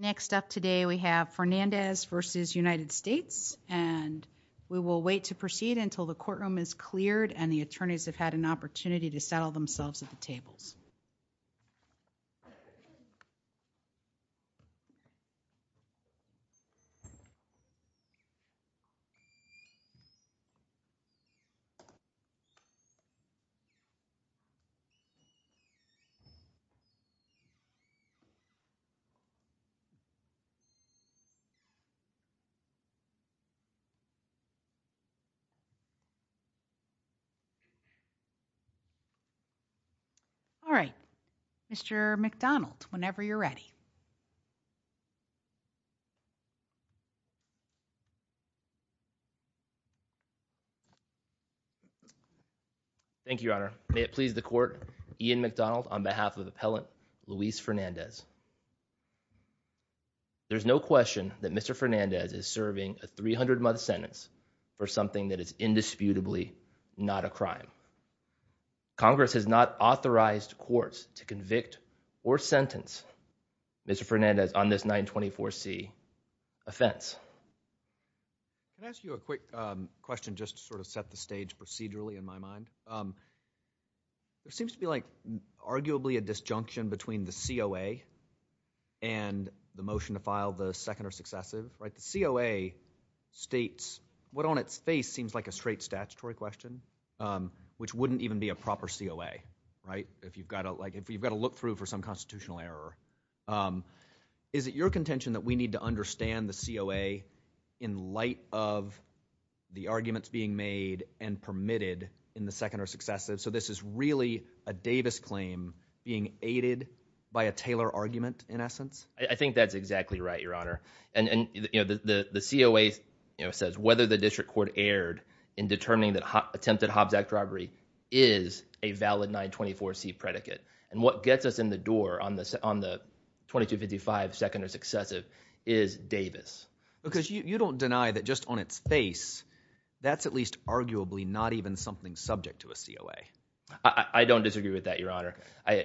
Next up today we have Fernandez v. United States and we will wait to proceed until the courtroom is cleared and the attorneys have had an opportunity to settle themselves at the tables. All right, Mr. McDonald whenever you're ready. Thank you, Your Honor, may it please the court, Ian McDonald on behalf of the appellant Luis Fernandez. There's no question that Mr. Fernandez is serving a 300 month sentence for something that is indisputably not a crime. Congress has not authorized courts to convict or sentence Mr. Fernandez on this 924c offense. Can I ask you a quick question just to sort of set the stage procedurally in my mind? There seems to be arguably a disjunction between the COA and the motion to file the second or successive. The COA states what on its face seems like a straight statutory question which wouldn't even be a proper COA. Is it your contention that we need to understand the COA in light of the arguments being made and permitted in the second or successive? So this is really a Davis claim being aided by a Taylor argument in essence? I think that's exactly right, Your Honor, and the COA says whether the district court erred in determining that attempted Hobbs Act robbery is a valid 924c predicate. And what gets us in the door on the 2255 second or successive is Davis. Because you don't deny that just on its face that's at least arguably not even something subject to a COA. I don't disagree with that, Your Honor.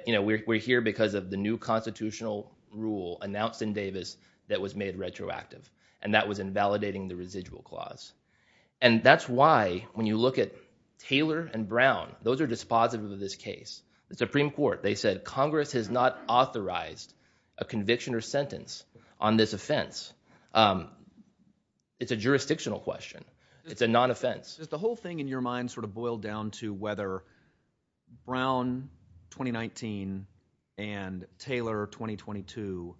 We're here because of the new constitutional rule announced in Davis that was made retroactive. And that was invalidating the residual clause. And that's why when you look at Taylor and Brown, those are dispositive of this case. The Supreme Court, they said Congress has not authorized a conviction or sentence on this offense. It's a jurisdictional question. It's a non-offense. Does the whole thing in your mind sort of boil down to whether Brown 2019 and Taylor 2022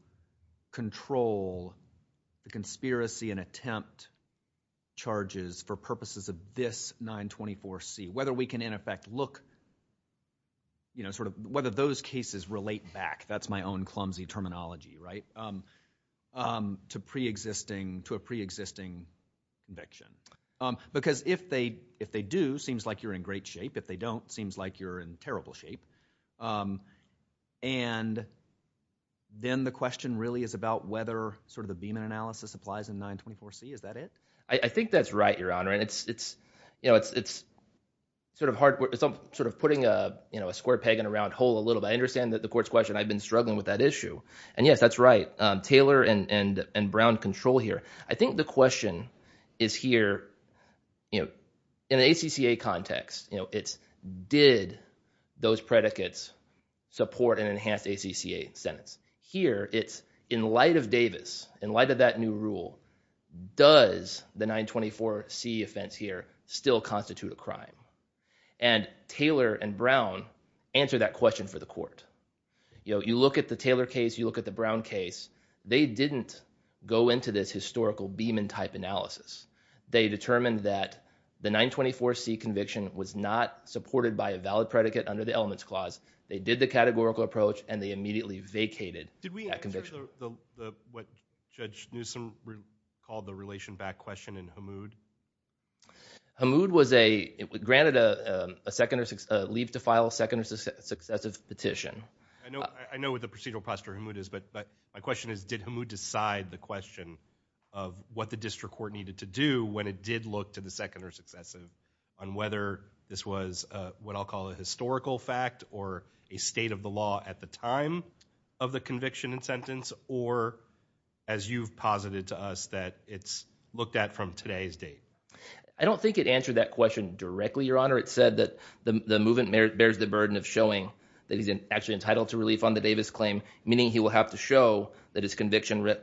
control the conspiracy and attempt charges for purposes of this 924c? Whether we can, in effect, look sort of whether those cases relate back, that's my own clumsy terminology, right, to a preexisting conviction? Because if they do, it seems like you're in great shape. If they don't, it seems like you're in terrible shape. And then the question really is about whether sort of the Beeman analysis applies in 924c. Is that it? I think that's right, Your Honor. And it's sort of putting a square peg in a round hole a little bit. I understand that the court's question. I've been struggling with that issue. And yes, that's right. Taylor and Brown control here. I think the question is here in an ACCA context. It's did those predicates support an enhanced ACCA sentence? Here it's in light of Davis, in light of that new rule, does the 924c offense here still constitute a crime? And Taylor and Brown answer that question for the court. You look at the Taylor case. You look at the Brown case. They didn't go into this historical Beeman-type analysis. They determined that the 924c conviction was not supported by a valid predicate under the elements clause. They did the categorical approach, and they immediately vacated that conviction. Did we answer what Judge Newsom called the relation back question in Hamoud? Hamoud was granted a leave to file second successive petition. I know what the procedural posture of Hamoud is, but my question is did Hamoud decide the question of what the district court needed to do when it did look to the second or successive on whether this was what I'll call a historical fact or a state of the law at the time of the conviction and sentence, or as you've posited to us that it's looked at from today's date? I don't think it answered that question directly, Your Honor. Your Honor, it said that the movement bears the burden of showing that he's actually entitled to relief on the Davis claim, meaning he will have to show that his conviction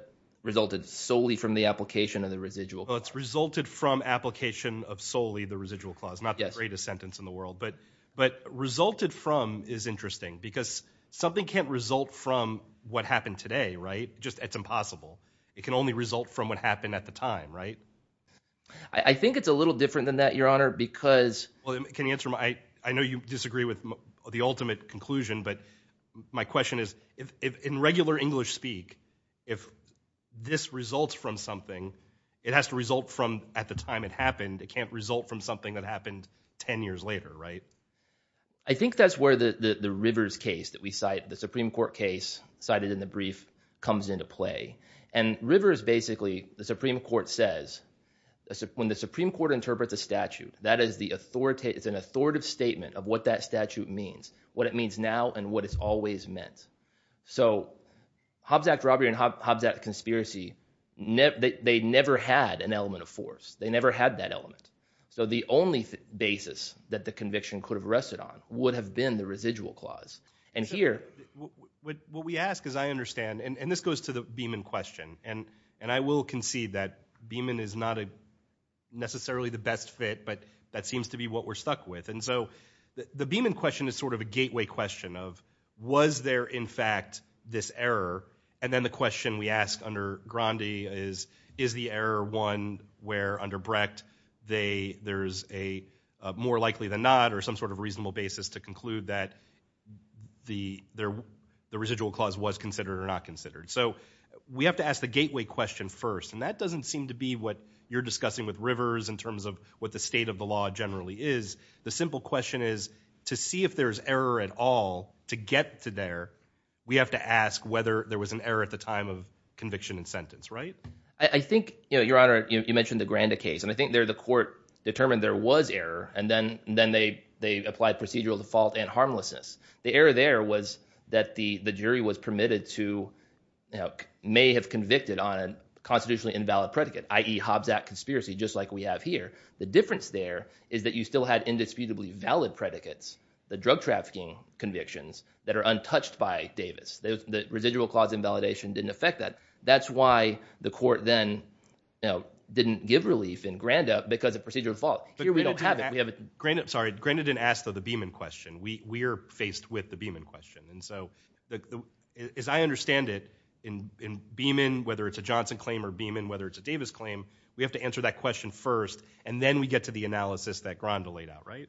resulted solely from the application of the residual clause. Well, it's resulted from application of solely the residual clause, not the greatest sentence in the world. But resulted from is interesting because something can't result from what happened today, right? It's impossible. It can only result from what happened at the time, right? I think it's a little different than that, Your Honor, because— Well, can you answer my—I know you disagree with the ultimate conclusion, but my question is if in regular English speak, if this results from something, it has to result from at the time it happened. It can't result from something that happened 10 years later, right? I think that's where the Rivers case that we cite, the Supreme Court case cited in the brief, comes into play. And Rivers basically, the Supreme Court says, when the Supreme Court interprets a statute, that is the authoritative—it's an authoritative statement of what that statute means, what it means now and what it's always meant. So Hobbs Act robbery and Hobbs Act conspiracy, they never had an element of force. They never had that element. So the only basis that the conviction could have rested on would have been the residual clause. And here— What we ask, as I understand, and this goes to the Beeman question, and I will concede that Beeman is not necessarily the best fit, but that seems to be what we're stuck with. And so the Beeman question is sort of a gateway question of was there, in fact, this error? And then the question we ask under Grandi is, is the error one where, under Brecht, there's a more likely than not or some sort of reasonable basis to conclude that the residual clause was considered or not considered? So we have to ask the gateway question first, and that doesn't seem to be what you're discussing with Rivers in terms of what the state of the law generally is. The simple question is, to see if there's error at all, to get to there, we have to ask whether there was an error at the time of conviction and sentence, right? I think, Your Honor, you mentioned the Grandi case, and I think there the court determined there was error, and then they applied procedural default and harmlessness. The error there was that the jury was permitted to—may have convicted on a constitutionally invalid predicate, i.e., Hobbs Act conspiracy, just like we have here. The difference there is that you still had indisputably valid predicates, the drug trafficking convictions, that are untouched by Davis. The residual clause invalidation didn't affect that. That's why the court then didn't give relief in Grandi because of procedural default. Here we don't have it. Sorry, Grandi didn't ask the Beamon question. We are faced with the Beamon question. And so as I understand it, in Beamon, whether it's a Johnson claim or Beamon, whether it's a Davis claim, we have to answer that question first, and then we get to the analysis that Grandi laid out, right?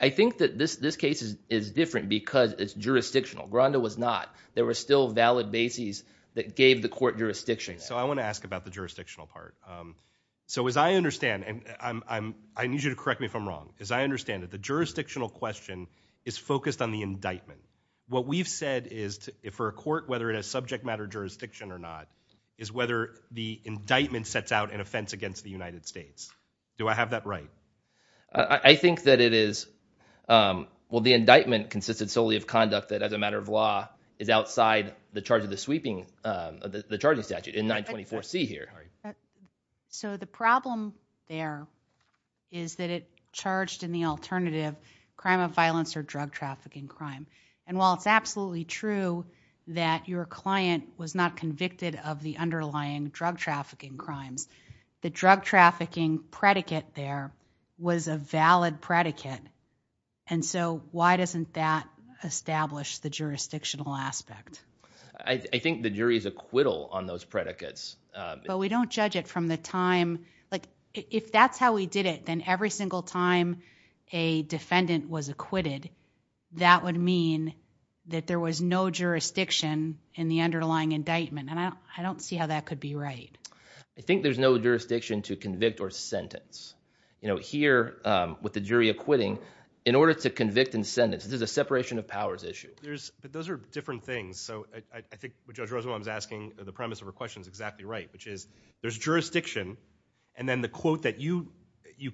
I think that this case is different because it's jurisdictional. Grandi was not. There were still valid bases that gave the court jurisdiction. So I want to ask about the jurisdictional part. So as I understand—and I need you to correct me if I'm wrong—as I understand it, the jurisdictional question is focused on the indictment. What we've said is for a court, whether it has subject matter jurisdiction or not, is whether the indictment sets out an offense against the United States. Do I have that right? I think that it is—well, the indictment consisted solely of conduct that, as a matter of law, is outside the charge of the sweeping—the charging statute in 924C here. So the problem there is that it charged in the alternative crime of violence or drug trafficking crime. And while it's absolutely true that your client was not convicted of the underlying drug trafficking crimes, the drug trafficking predicate there was a valid predicate. And so why doesn't that establish the jurisdictional aspect? I think the jury's acquittal on those predicates— But we don't judge it from the time—like, if that's how we did it, then every single time a defendant was acquitted, that would mean that there was no jurisdiction in the underlying indictment. And I don't see how that could be right. I think there's no jurisdiction to convict or sentence. Here, with the jury acquitting, in order to convict and sentence, there's a separation of powers issue. But those are different things. So I think what Judge Rosenbaum is asking, the premise of her question is exactly right, which is there's jurisdiction, and then the quote that you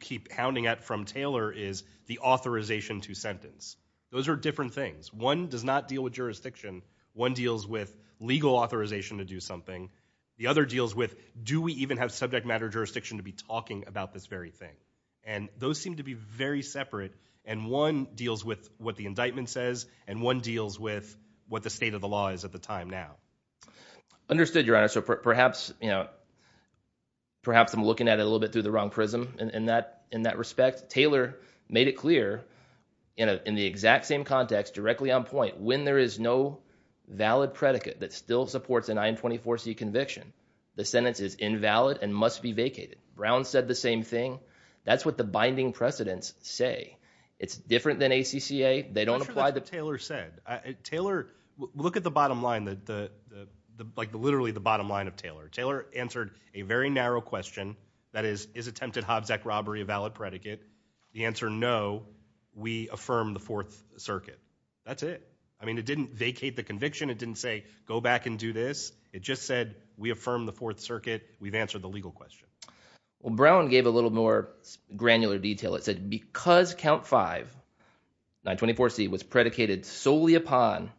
keep hounding at from Taylor is the authorization to sentence. Those are different things. One does not deal with jurisdiction. One deals with legal authorization to do something. The other deals with, do we even have subject matter jurisdiction to be talking about this very thing? And those seem to be very separate, and one deals with what the indictment says, and one deals with what the state of the law is at the time now. Understood, Your Honor. So perhaps I'm looking at it a little bit through the wrong prism in that respect. Taylor made it clear in the exact same context, directly on point, that when there is no valid predicate that still supports an I-24C conviction, the sentence is invalid and must be vacated. Brown said the same thing. That's what the binding precedents say. It's different than ACCA. They don't apply the- I'm not sure that's what Taylor said. Taylor, look at the bottom line, like literally the bottom line of Taylor. Taylor answered a very narrow question, that is, is attempted Hobbs Act robbery a valid predicate? The answer, no. We affirm the Fourth Circuit. That's it. I mean, it didn't vacate the conviction. It didn't say go back and do this. It just said we affirm the Fourth Circuit. We've answered the legal question. Well, Brown gave a little more granular detail. It said because Count 5, I-24C, was predicated solely upon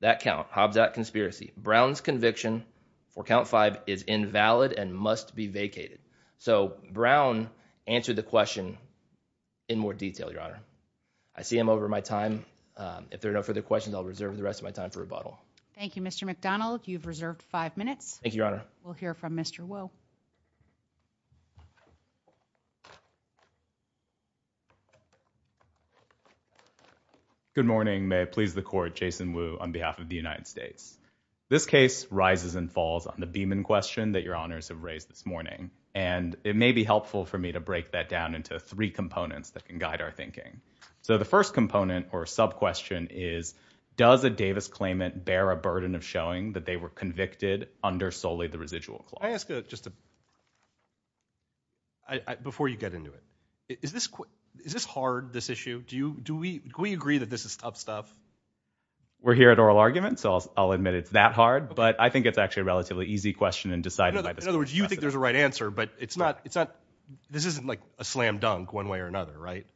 that count, Hobbs Act conspiracy, Brown's conviction for Count 5 is invalid and must be vacated. So Brown answered the question in more detail, Your Honor. I see I'm over my time. If there are no further questions, I'll reserve the rest of my time for rebuttal. Thank you, Mr. McDonald. You've reserved five minutes. Thank you, Your Honor. We'll hear from Mr. Wu. Good morning. May it please the Court, Jason Wu on behalf of the United States. And it may be helpful for me to break that down into three components that can guide our thinking. So the first component or sub-question is does a Davis claimant bear a burden of showing that they were convicted under solely the residual clause? Can I ask just a – before you get into it, is this hard, this issue? Do we agree that this is tough stuff? We're here at oral argument, so I'll admit it's that hard. But I think it's actually a relatively easy question and decided by this question. In other words, you think there's a right answer, but it's not – this isn't like a slam dunk one way or another, right?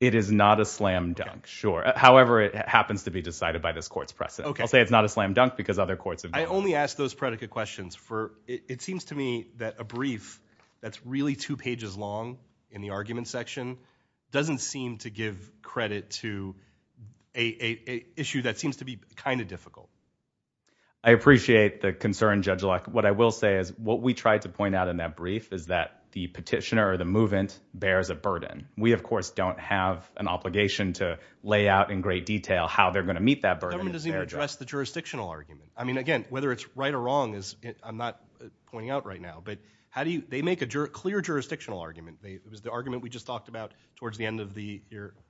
It is not a slam dunk, sure. However, it happens to be decided by this court's precedent. I'll say it's not a slam dunk because other courts have done it. I only ask those predicate questions for – it seems to me that a brief that's really two pages long in the argument section doesn't seem to give credit to an issue that seems to be kind of difficult. I appreciate the concern, Judge Locke. What I will say is what we tried to point out in that brief is that the petitioner or the movant bears a burden. We, of course, don't have an obligation to lay out in great detail how they're going to meet that burden. The government doesn't even address the jurisdictional argument. I mean, again, whether it's right or wrong is – I'm not pointing out right now. But how do you – they make a clear jurisdictional argument. It was the argument we just talked about towards the end of the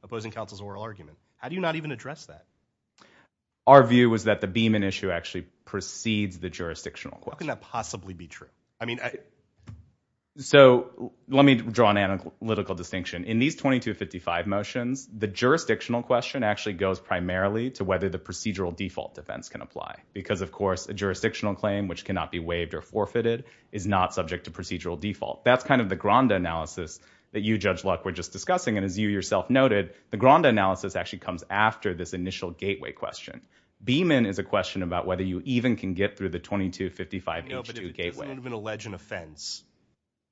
opposing counsel's oral argument. How do you not even address that? Our view was that the Beeman issue actually precedes the jurisdictional question. How can that possibly be true? I mean – So let me draw an analytical distinction. In these 2255 motions, the jurisdictional question actually goes primarily to whether the procedural default defense can apply because, of course, a jurisdictional claim which cannot be waived or forfeited is not subject to procedural default. That's kind of the grand analysis that you, Judge Locke, were just discussing. And as you yourself noted, the grand analysis actually comes after this initial gateway question. Beeman is a question about whether you even can get through the 2255H2 gateway. No, but it would have been an alleged offense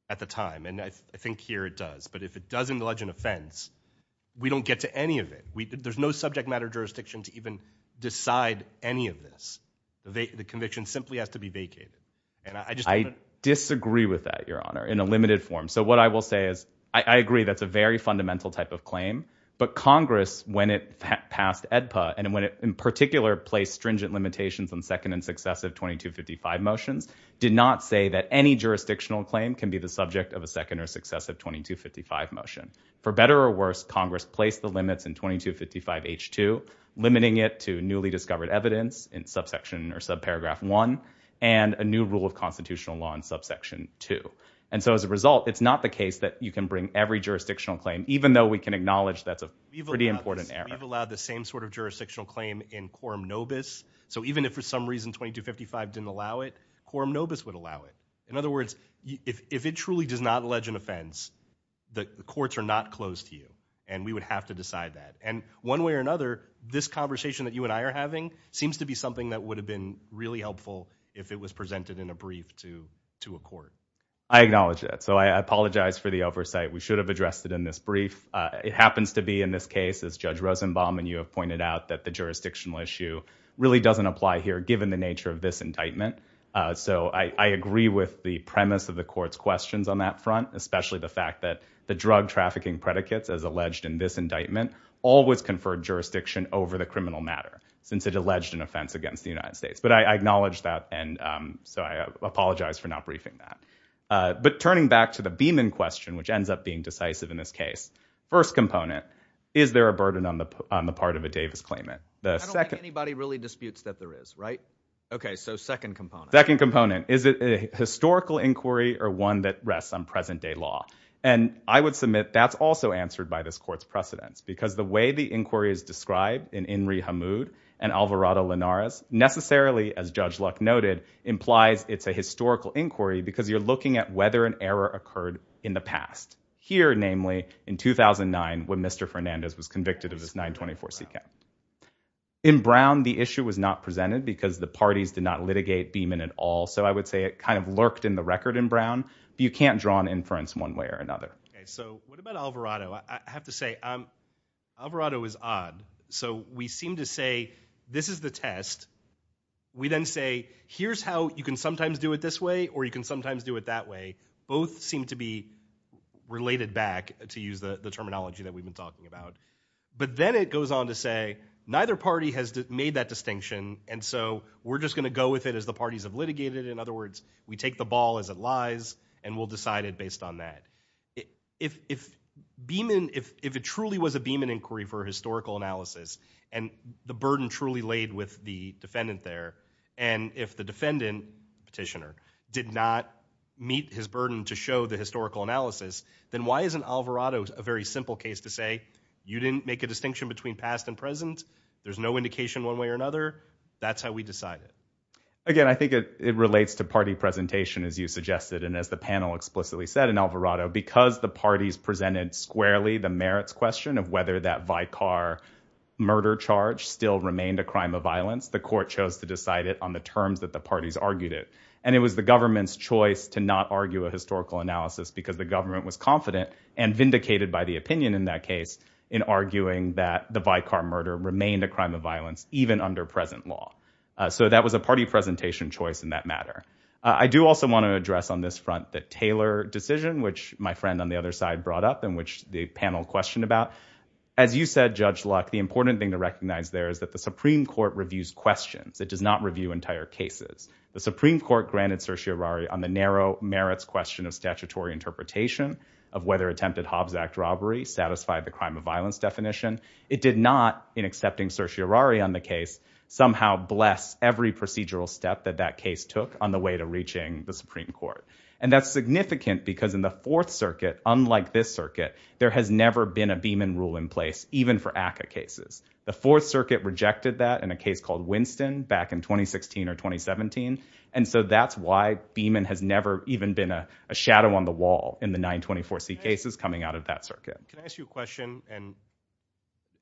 at the time. And I think here it does. But if it doesn't allege an offense, we don't get to any of it. There's no subject matter jurisdiction to even decide any of this. The conviction simply has to be vacated. I disagree with that, Your Honor, in a limited form. So what I will say is I agree that's a very fundamental type of claim. But Congress, when it passed AEDPA, and when it in particular placed stringent limitations on second and successive 2255 motions, did not say that any jurisdictional claim can be the subject of a second or successive 2255 motion. For better or worse, Congress placed the limits in 2255H2, limiting it to newly discovered evidence in subsection or subparagraph 1 and a new rule of constitutional law in subsection 2. And so as a result, it's not the case that you can bring every jurisdictional claim, even though we can acknowledge that's a pretty important error. We've allowed the same sort of jurisdictional claim in quorum nobis. So even if for some reason 2255 didn't allow it, quorum nobis would allow it. In other words, if it truly does not allege an offense, the courts are not closed to you, and we would have to decide that. And one way or another, this conversation that you and I are having seems to be something that would have been really helpful if it was presented in a brief to a court. I acknowledge that. So I apologize for the oversight. We should have addressed it in this brief. It happens to be in this case, as Judge Rosenbaum and you have pointed out, that the jurisdictional issue really doesn't apply here, given the nature of this indictment. So I agree with the premise of the court's questions on that front, especially the fact that the drug trafficking predicates, as alleged in this indictment, always confer jurisdiction over the criminal matter, since it alleged an offense against the United States. But I acknowledge that, and so I apologize for not briefing that. But turning back to the Beeman question, which ends up being decisive in this case, first component, is there a burden on the part of a Davis claimant? I don't think anybody really disputes that there is, right? Okay, so second component. Second component, is it a historical inquiry or one that rests on present-day law? And I would submit that's also answered by this court's precedents, because the way the inquiry is described in Inri Hamoud and Alvarado Linares necessarily, as Judge Luck noted, implies it's a historical inquiry because you're looking at whether an error occurred in the past. Here, namely, in 2009, when Mr. Fernandez was convicted of his 924 C.K. In Brown, the issue was not presented because the parties did not litigate Beeman at all, so I would say it kind of lurked in the record in Brown, but you can't draw an inference one way or another. Okay, so what about Alvarado? I have to say, Alvarado is odd. So we seem to say, this is the test. We then say, here's how you can sometimes do it this way or you can sometimes do it that way. Both seem to be related back, to use the terminology that we've been talking about. But then it goes on to say, neither party has made that distinction, and so we're just going to go with it as the parties have litigated it. In other words, we take the ball as it lies, and we'll decide it based on that. If Beeman, if it truly was a Beeman inquiry for a historical analysis, and the burden truly laid with the defendant there, and if the defendant, petitioner, did not meet his burden to show the historical analysis, then why isn't Alvarado a very simple case to say, you didn't make a distinction between past and present? There's no indication one way or another. That's how we decide it. Again, I think it relates to party presentation, as you suggested, and as the panel explicitly said in Alvarado, because the parties presented squarely the merits question of whether that Vicar murder charge still remained a crime of violence, the court chose to decide it on the terms that the parties argued it. And it was the government's choice to not argue a historical analysis because the government was confident and vindicated by the opinion in that case in arguing that the Vicar murder remained a crime of violence, even under present law. So that was a party presentation choice in that matter. I do also want to address on this front the Taylor decision, which my friend on the other side brought up and which the panel questioned about. As you said, Judge Luck, the important thing to recognize there is that the Supreme Court reviews questions. It does not review entire cases. The Supreme Court granted certiorari on the narrow merits question of statutory interpretation of whether attempted Hobbs Act robbery satisfied the crime of violence definition. It did not, in accepting certiorari on the case, somehow bless every procedural step that that case took on the way to reaching the Supreme Court. And that's significant because in the Fourth Circuit, unlike this circuit, there has never been a Beeman rule in place, even for ACCA cases. The Fourth Circuit rejected that in a case called Winston back in 2016 or 2017, and so that's why Beeman has never even been a shadow on the wall in the 924C cases coming out of that circuit. Can I ask you a question?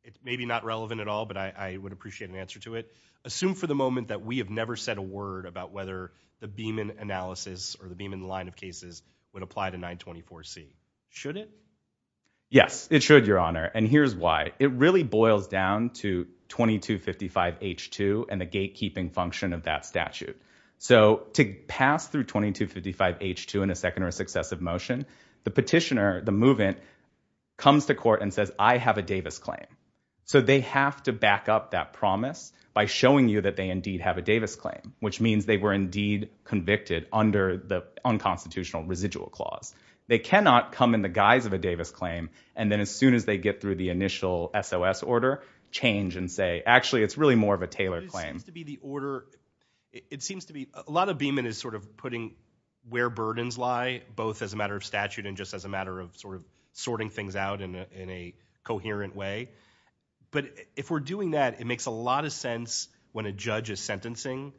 It's maybe not relevant at all, but I would appreciate an answer to it. Assume for the moment that we have never said a word about whether the Beeman analysis or the Beeman line of cases would apply to 924C. Should it? Yes, it should, Your Honor, and here's why. It really boils down to 2255H2 and the gatekeeping function of that statute. So to pass through 2255H2 in a second or successive motion, the petitioner, the movant, comes to court and says, I have a Davis claim. So they have to back up that promise by showing you that they indeed have a Davis claim, which means they were indeed convicted under the unconstitutional residual clause. They cannot come in the guise of a Davis claim, and then as soon as they get through the initial SOS order, change and say, actually, it's really more of a Taylor claim. It seems to be the order. It seems to be a lot of Beeman is sort of putting where burdens lie, both as a matter of statute and just as a matter of sort of sorting things out in a coherent way. But if we're doing that, it makes a lot of sense when a judge is sentencing,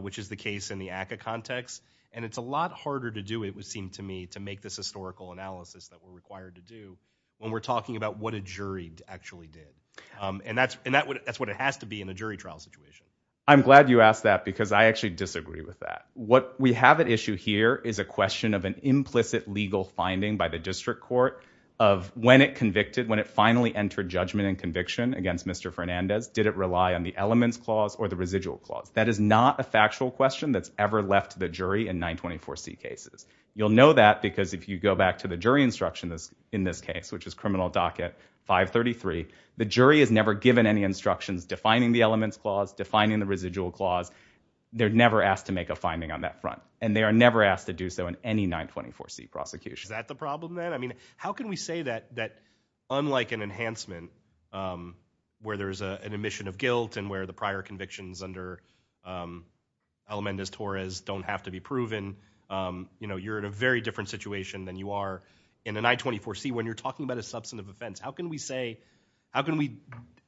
which is the case in the ACCA context, and it's a lot harder to do, it would seem to me, to make this historical analysis that we're required to do when we're talking about what a jury actually did. And that's what it has to be in a jury trial situation. I'm glad you asked that because I actually disagree with that. What we have at issue here is a question of an implicit legal finding by the district court of when it convicted, when it finally entered judgment and conviction against Mr. Fernandez, did it rely on the elements clause or the residual clause? That is not a factual question that's ever left the jury in 924C cases. You'll know that because if you go back to the jury instruction in this case, which is criminal docket 533, the jury is never given any instructions defining the elements clause, defining the residual clause. They're never asked to make a finding on that front, and they are never asked to do so in any 924C prosecution. Is that the problem then? I mean, how can we say that unlike an enhancement where there's an emission of guilt and where the prior convictions under Elemendez-Torres don't have to be proven, you're in a very different situation than you are in a 924C when you're talking about a substantive offense. How can we say, how can we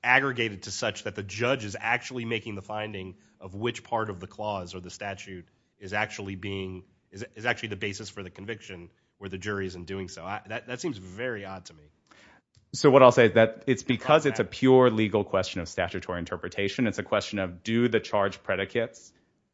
aggregate it to such that the judge is actually making the finding of which part of the clause or the statute is actually being, is actually the basis for the conviction where the jury isn't doing so? That seems very odd to me. So what I'll say is that it's because it's a pure legal question of statutory interpretation. It's a question of do the charge predicates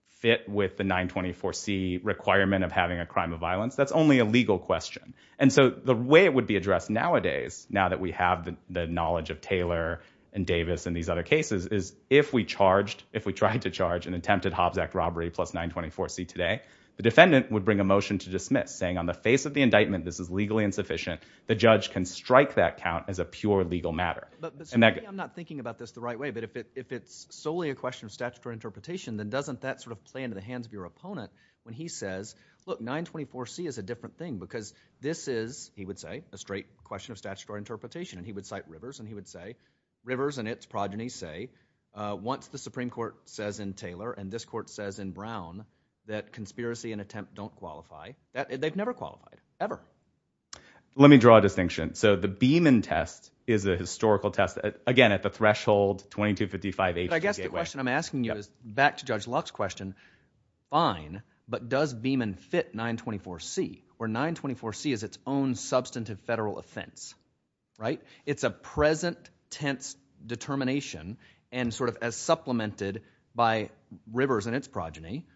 fit with the 924C requirement of having a crime of violence? That's only a legal question. And so the way it would be addressed nowadays, now that we have the knowledge of Taylor and Davis and these other cases, is if we charged, if we tried to charge an attempted Hobbs Act robbery plus 924C today, the defendant would bring a motion to dismiss, saying on the face of the indictment this is legally insufficient, the judge can strike that count as a pure legal matter. But maybe I'm not thinking about this the right way, but if it's solely a question of statutory interpretation, then doesn't that sort of play into the hands of your opponent when he says, look, 924C is a different thing because this is, he would say, a straight question of statutory interpretation. And he would cite Rivers and he would say, Rivers and its progeny say, once the Supreme Court says in Taylor and this court says in Brown that conspiracy and attempt don't qualify, they've never qualified, ever. Let me draw a distinction. So the Beeman test is a historical test, again, at the threshold 2255H. But I guess the question I'm asking you is back to Judge Luck's question, fine, but does Beeman fit 924C, where 924C is its own substantive federal offense, right? It's a present tense determination and sort of as supplemented by Rivers and its progeny,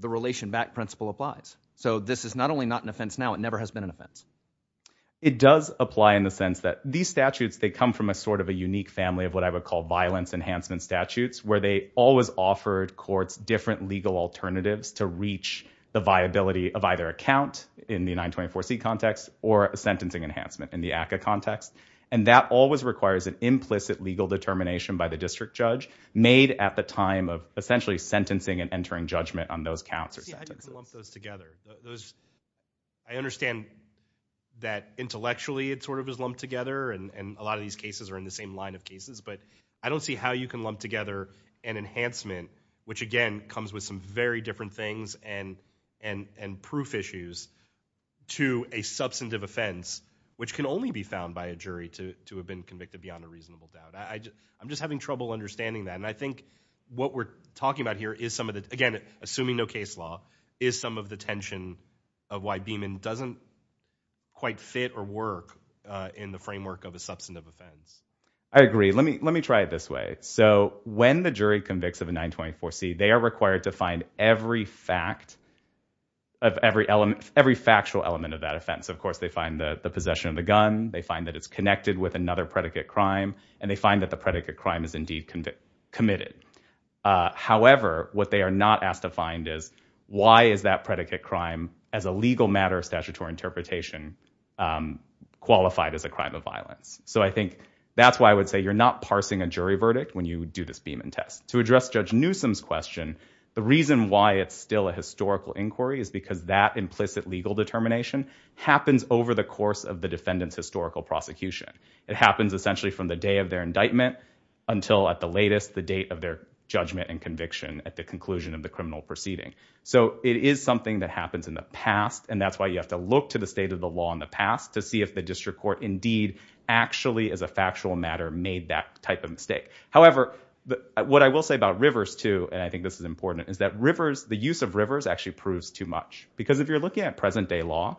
the relation back principle applies. So this is not only not an offense now, it never has been an offense. It does apply in the sense that these statutes, they come from a sort of a unique family of what I would call violence enhancement statutes, where they always offered courts different legal alternatives to reach the viability of either a count in the 924C context or a sentencing enhancement in the ACCA context. And that always requires an implicit legal determination by the district judge made at the time of essentially sentencing and entering judgment on those counts or sentences. How do you lump those together? I understand that intellectually it sort of is lumped together and a lot of these cases are in the same line of cases, but I don't see how you can lump together an enhancement, which, again, comes with some very different things and proof issues to a substantive offense, which can only be found by a jury to have been convicted beyond a reasonable doubt. I'm just having trouble understanding that. And I think what we're talking about here is some of the... is some of the tension of why Beeman doesn't quite fit or work in the framework of a substantive offense. I agree. Let me try it this way. So when the jury convicts of a 924C, they are required to find every fact of every element... every factual element of that offense. Of course, they find the possession of the gun, they find that it's connected with another predicate crime, and they find that the predicate crime is indeed committed. However, what they are not asked to find is why is that predicate crime, as a legal matter of statutory interpretation, qualified as a crime of violence? So I think that's why I would say you're not parsing a jury verdict when you do this Beeman test. To address Judge Newsom's question, the reason why it's still a historical inquiry is because that implicit legal determination happens over the course of the defendant's historical prosecution. It happens essentially from the day of their indictment until, at the latest, the date of their judgment and conviction at the conclusion of the criminal proceeding. So it is something that happens in the past, and that's why you have to look to the state of the law in the past to see if the district court indeed actually, as a factual matter, made that type of mistake. However, what I will say about Rivers, too, and I think this is important, is that the use of Rivers actually proves too much. Because if you're looking at present-day law,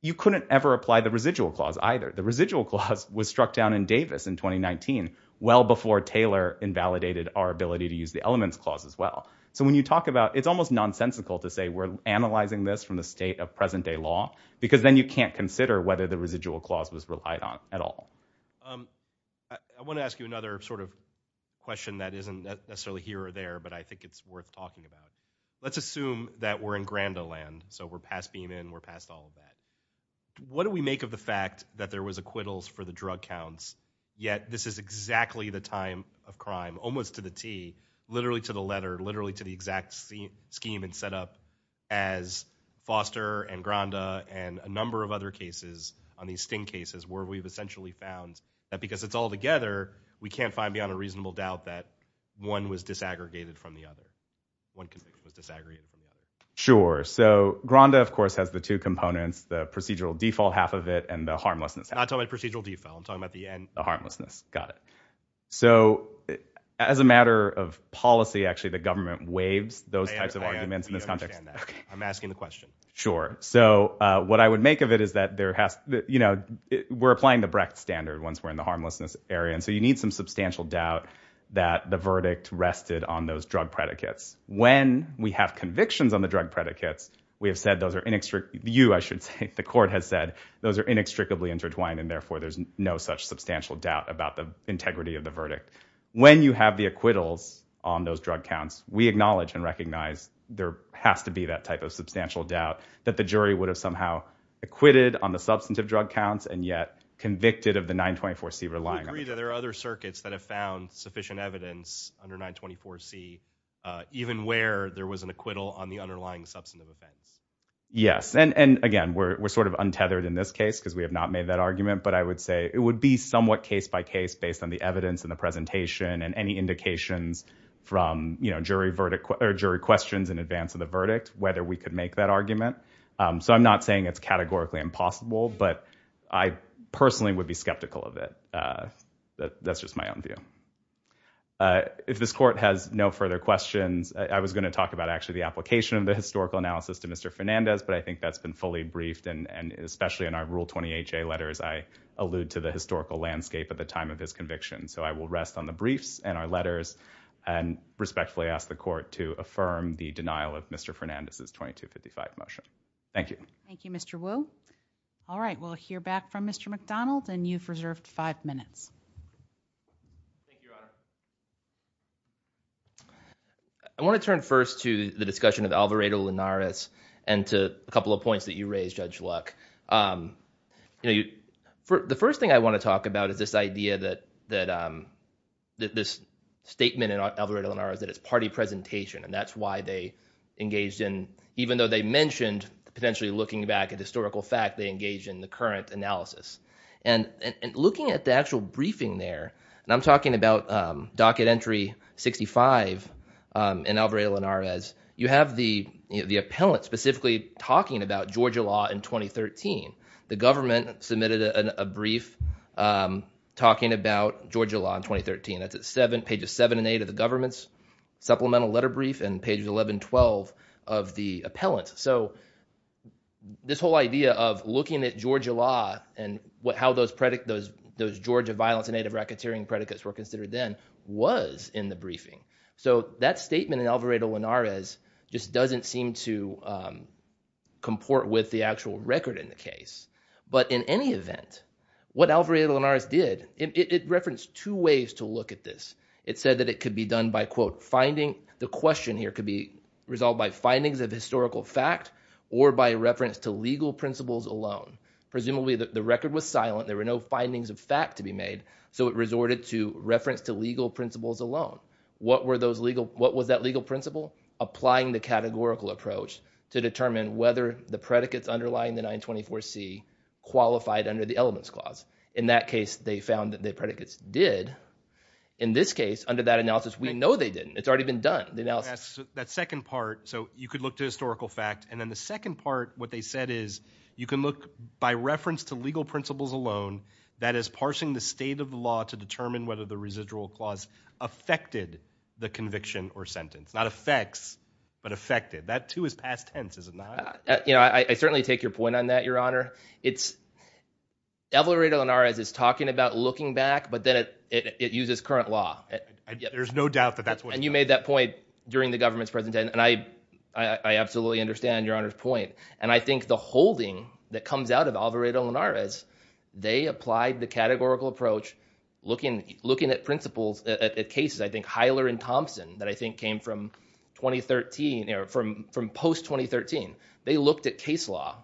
you couldn't ever apply the residual clause, either. The residual clause was struck down in Davis in 2019, well before Taylor invalidated our ability to use the elements clause as well. So when you talk about... it's almost nonsensical to say we're analyzing this from the state of present-day law, because then you can't consider whether the residual clause was relied on at all. I want to ask you another sort of question that isn't necessarily here or there, but I think it's worth talking about. Let's assume that we're in Grand Island, so we're past Beeman, we're past all of that. What do we make of the fact that there was acquittals for the drug counts, yet this is exactly the time of crime, almost to the T, literally to the letter, literally to the exact scheme and setup, as Foster and Granda and a number of other cases on these sting cases where we've essentially found that because it's all together, we can't find beyond a reasonable doubt that one was disaggregated from the other. One conviction was disaggregated from the other. Sure. So Granda, of course, has the two components, the procedural default half of it and the harmlessness half. I'm not talking about procedural default. I'm talking about the end. The harmlessness. Got it. So as a matter of policy, actually, the government waives those types of arguments in this context. I understand that. I'm asking the question. Sure. So what I would make of it is that there has... You know, we're applying the Brecht standard once we're in the harmlessness area, and so you need some substantial doubt that the verdict rested on those drug predicates. When we have convictions on the drug predicates, we have said those are inextricably... You, I should say, the court has said those are inextricably intertwined, and therefore there's no such substantial doubt about the integrity of the verdict. When you have the acquittals on those drug counts, we acknowledge and recognize there has to be that type of substantial doubt that the jury would have somehow acquitted on the substantive drug counts and yet convicted of the 924C relying on it. Do you agree that there are other circuits that have found sufficient evidence under 924C, even where there was an acquittal on the underlying substantive offense? Yes, and again, we're sort of untethered in this case because we have not made that argument, but I would say it would be somewhat case-by-case based on the evidence in the presentation and any indications from, you know, jury verdict... or jury questions in advance of the verdict whether we could make that argument. So I'm not saying it's categorically impossible, but I personally would be skeptical of it. That's just my own view. If this court has no further questions, I was going to talk about actually the application of the historical analysis to Mr. Fernandez, but I think that's been fully briefed, and especially in our Rule 20HA letters, I allude to the historical landscape at the time of his conviction. So I will rest on the briefs and our letters and respectfully ask the court to affirm the denial of Mr. Fernandez's 2255 motion. Thank you. Thank you, Mr. Wu. All right, we'll hear back from Mr. McDonald, and you've reserved five minutes. Thank you, Your Honor. I want to turn first to the discussion of Alvarado-Linares and to a couple of points that you raised, Judge Luck. You know, the first thing I want to talk about is this idea that... this statement in Alvarado-Linares that it's party presentation, and that's why they engaged in... even though they mentioned potentially looking back at historical fact, they engaged in the current analysis. And looking at the actual briefing there, and I'm talking about Docket Entry 65 in Alvarado-Linares, you have the appellant specifically talking about Georgia law in 2013. The government submitted a brief talking about Georgia law in 2013. That's at pages 7 and 8 of the government's supplemental letter brief and pages 11 and 12 of the appellant. So this whole idea of looking at Georgia law and how those predict... those Georgia violence and native racketeering predicates were considered then was in the briefing. So that statement in Alvarado-Linares just doesn't seem to comport with the actual record in the case. But in any event, what Alvarado-Linares did, it referenced two ways to look at this. It said that it could be done by, quote, finding... the question here could be resolved by findings of historical fact or by reference to legal principles alone. Presumably the record was silent. There were no findings of fact to be made. So it resorted to reference to legal principles alone. What were those legal... what was that legal principle? Applying the categorical approach to determine whether the predicates underlying the 924C qualified under the Elements Clause. In that case, they found that the predicates did. In this case, under that analysis, we know they didn't. It's already been done. That second part, so you could look to historical fact. And then the second part, what they said is you can look by reference to legal principles alone. That is, parsing the state of the law to determine whether the residual clause affected the conviction or sentence. Not affects, but affected. That, too, is past tense, isn't it? You know, I certainly take your point on that, Your Honor. It's... Alvarado-Linares is talking about looking back, but then it uses current law. There's no doubt that that's what... And you made that point during the government's presentation. And I absolutely understand Your Honor's point. And I think the holding that comes out of Alvarado-Linares, they applied the categorical approach, looking at principles, at cases, I think, Hyler and Thompson, that I think came from 2013, or from post-2013. They looked at case law,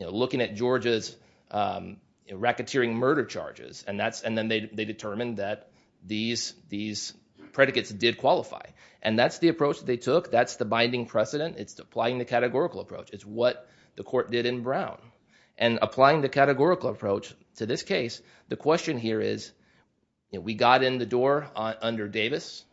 looking at Georgia's racketeering murder charges, and then they determined that these predicates did qualify. And that's the approach that they took. That's the binding precedent. It's applying the categorical approach. It's what the court did in Brown. And applying the categorical approach to this case, the question here is, we got in the door under Davis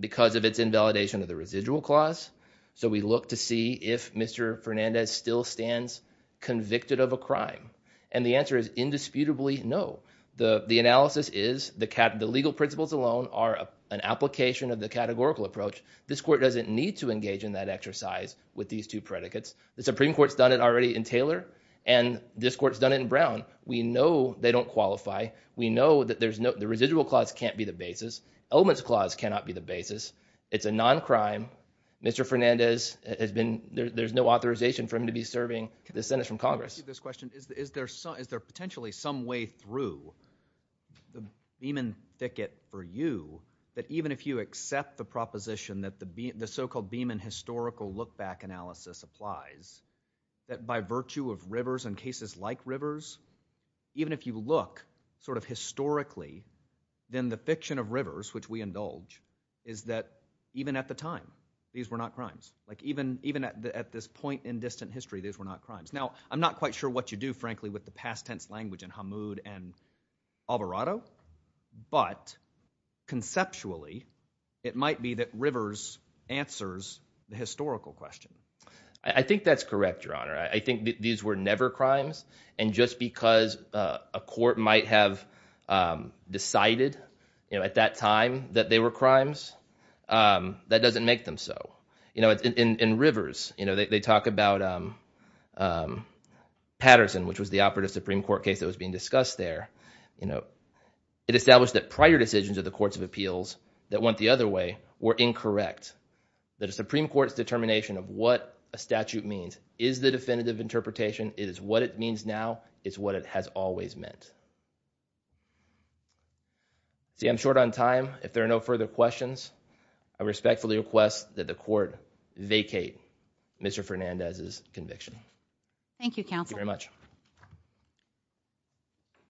because of its invalidation of the residual clause, so we look to see if Mr. Fernandez still stands convicted of a crime. And the answer is indisputably no. The analysis is the legal principles alone are an application of the categorical approach. This court doesn't need to engage in that exercise with these two predicates. The Supreme Court's done it already in Taylor, and this court's done it in Brown. We know they don't qualify. We know that the residual clause can't be the basis. Elements clause cannot be the basis. It's a non-crime. Mr. Fernandez has been... There's no authorization for him to be serving the sentence from Congress. Let me ask you this question. Is there potentially some way through the Beeman Thicket for you that even if you accept the proposition that the so-called Beeman historical look-back analysis applies, that by virtue of rivers and cases like rivers, even if you look sort of historically, then the fiction of rivers, which we indulge, is that even at the time, these were not crimes. Like, even at this point in distant history, these were not crimes. Now, I'm not quite sure what you do, frankly, with the past tense language in Hamoud and Alvarado, but conceptually, it might be that rivers answers the historical question. I think that's correct, Your Honor. I think these were never crimes, and just because a court might have decided at that time that they were crimes, that doesn't make them so. In rivers, they talk about Patterson, which was the operative Supreme Court case that was being discussed there. It established that prior decisions of the courts of appeals that went the other way were incorrect, that a Supreme Court's determination of what a statute means is the definitive interpretation. It is what it means now. It's what it has always meant. See, I'm short on time. If there are no further questions, vacate Mr. Fernandez's conviction. Thank you, counsel. Thank you very much.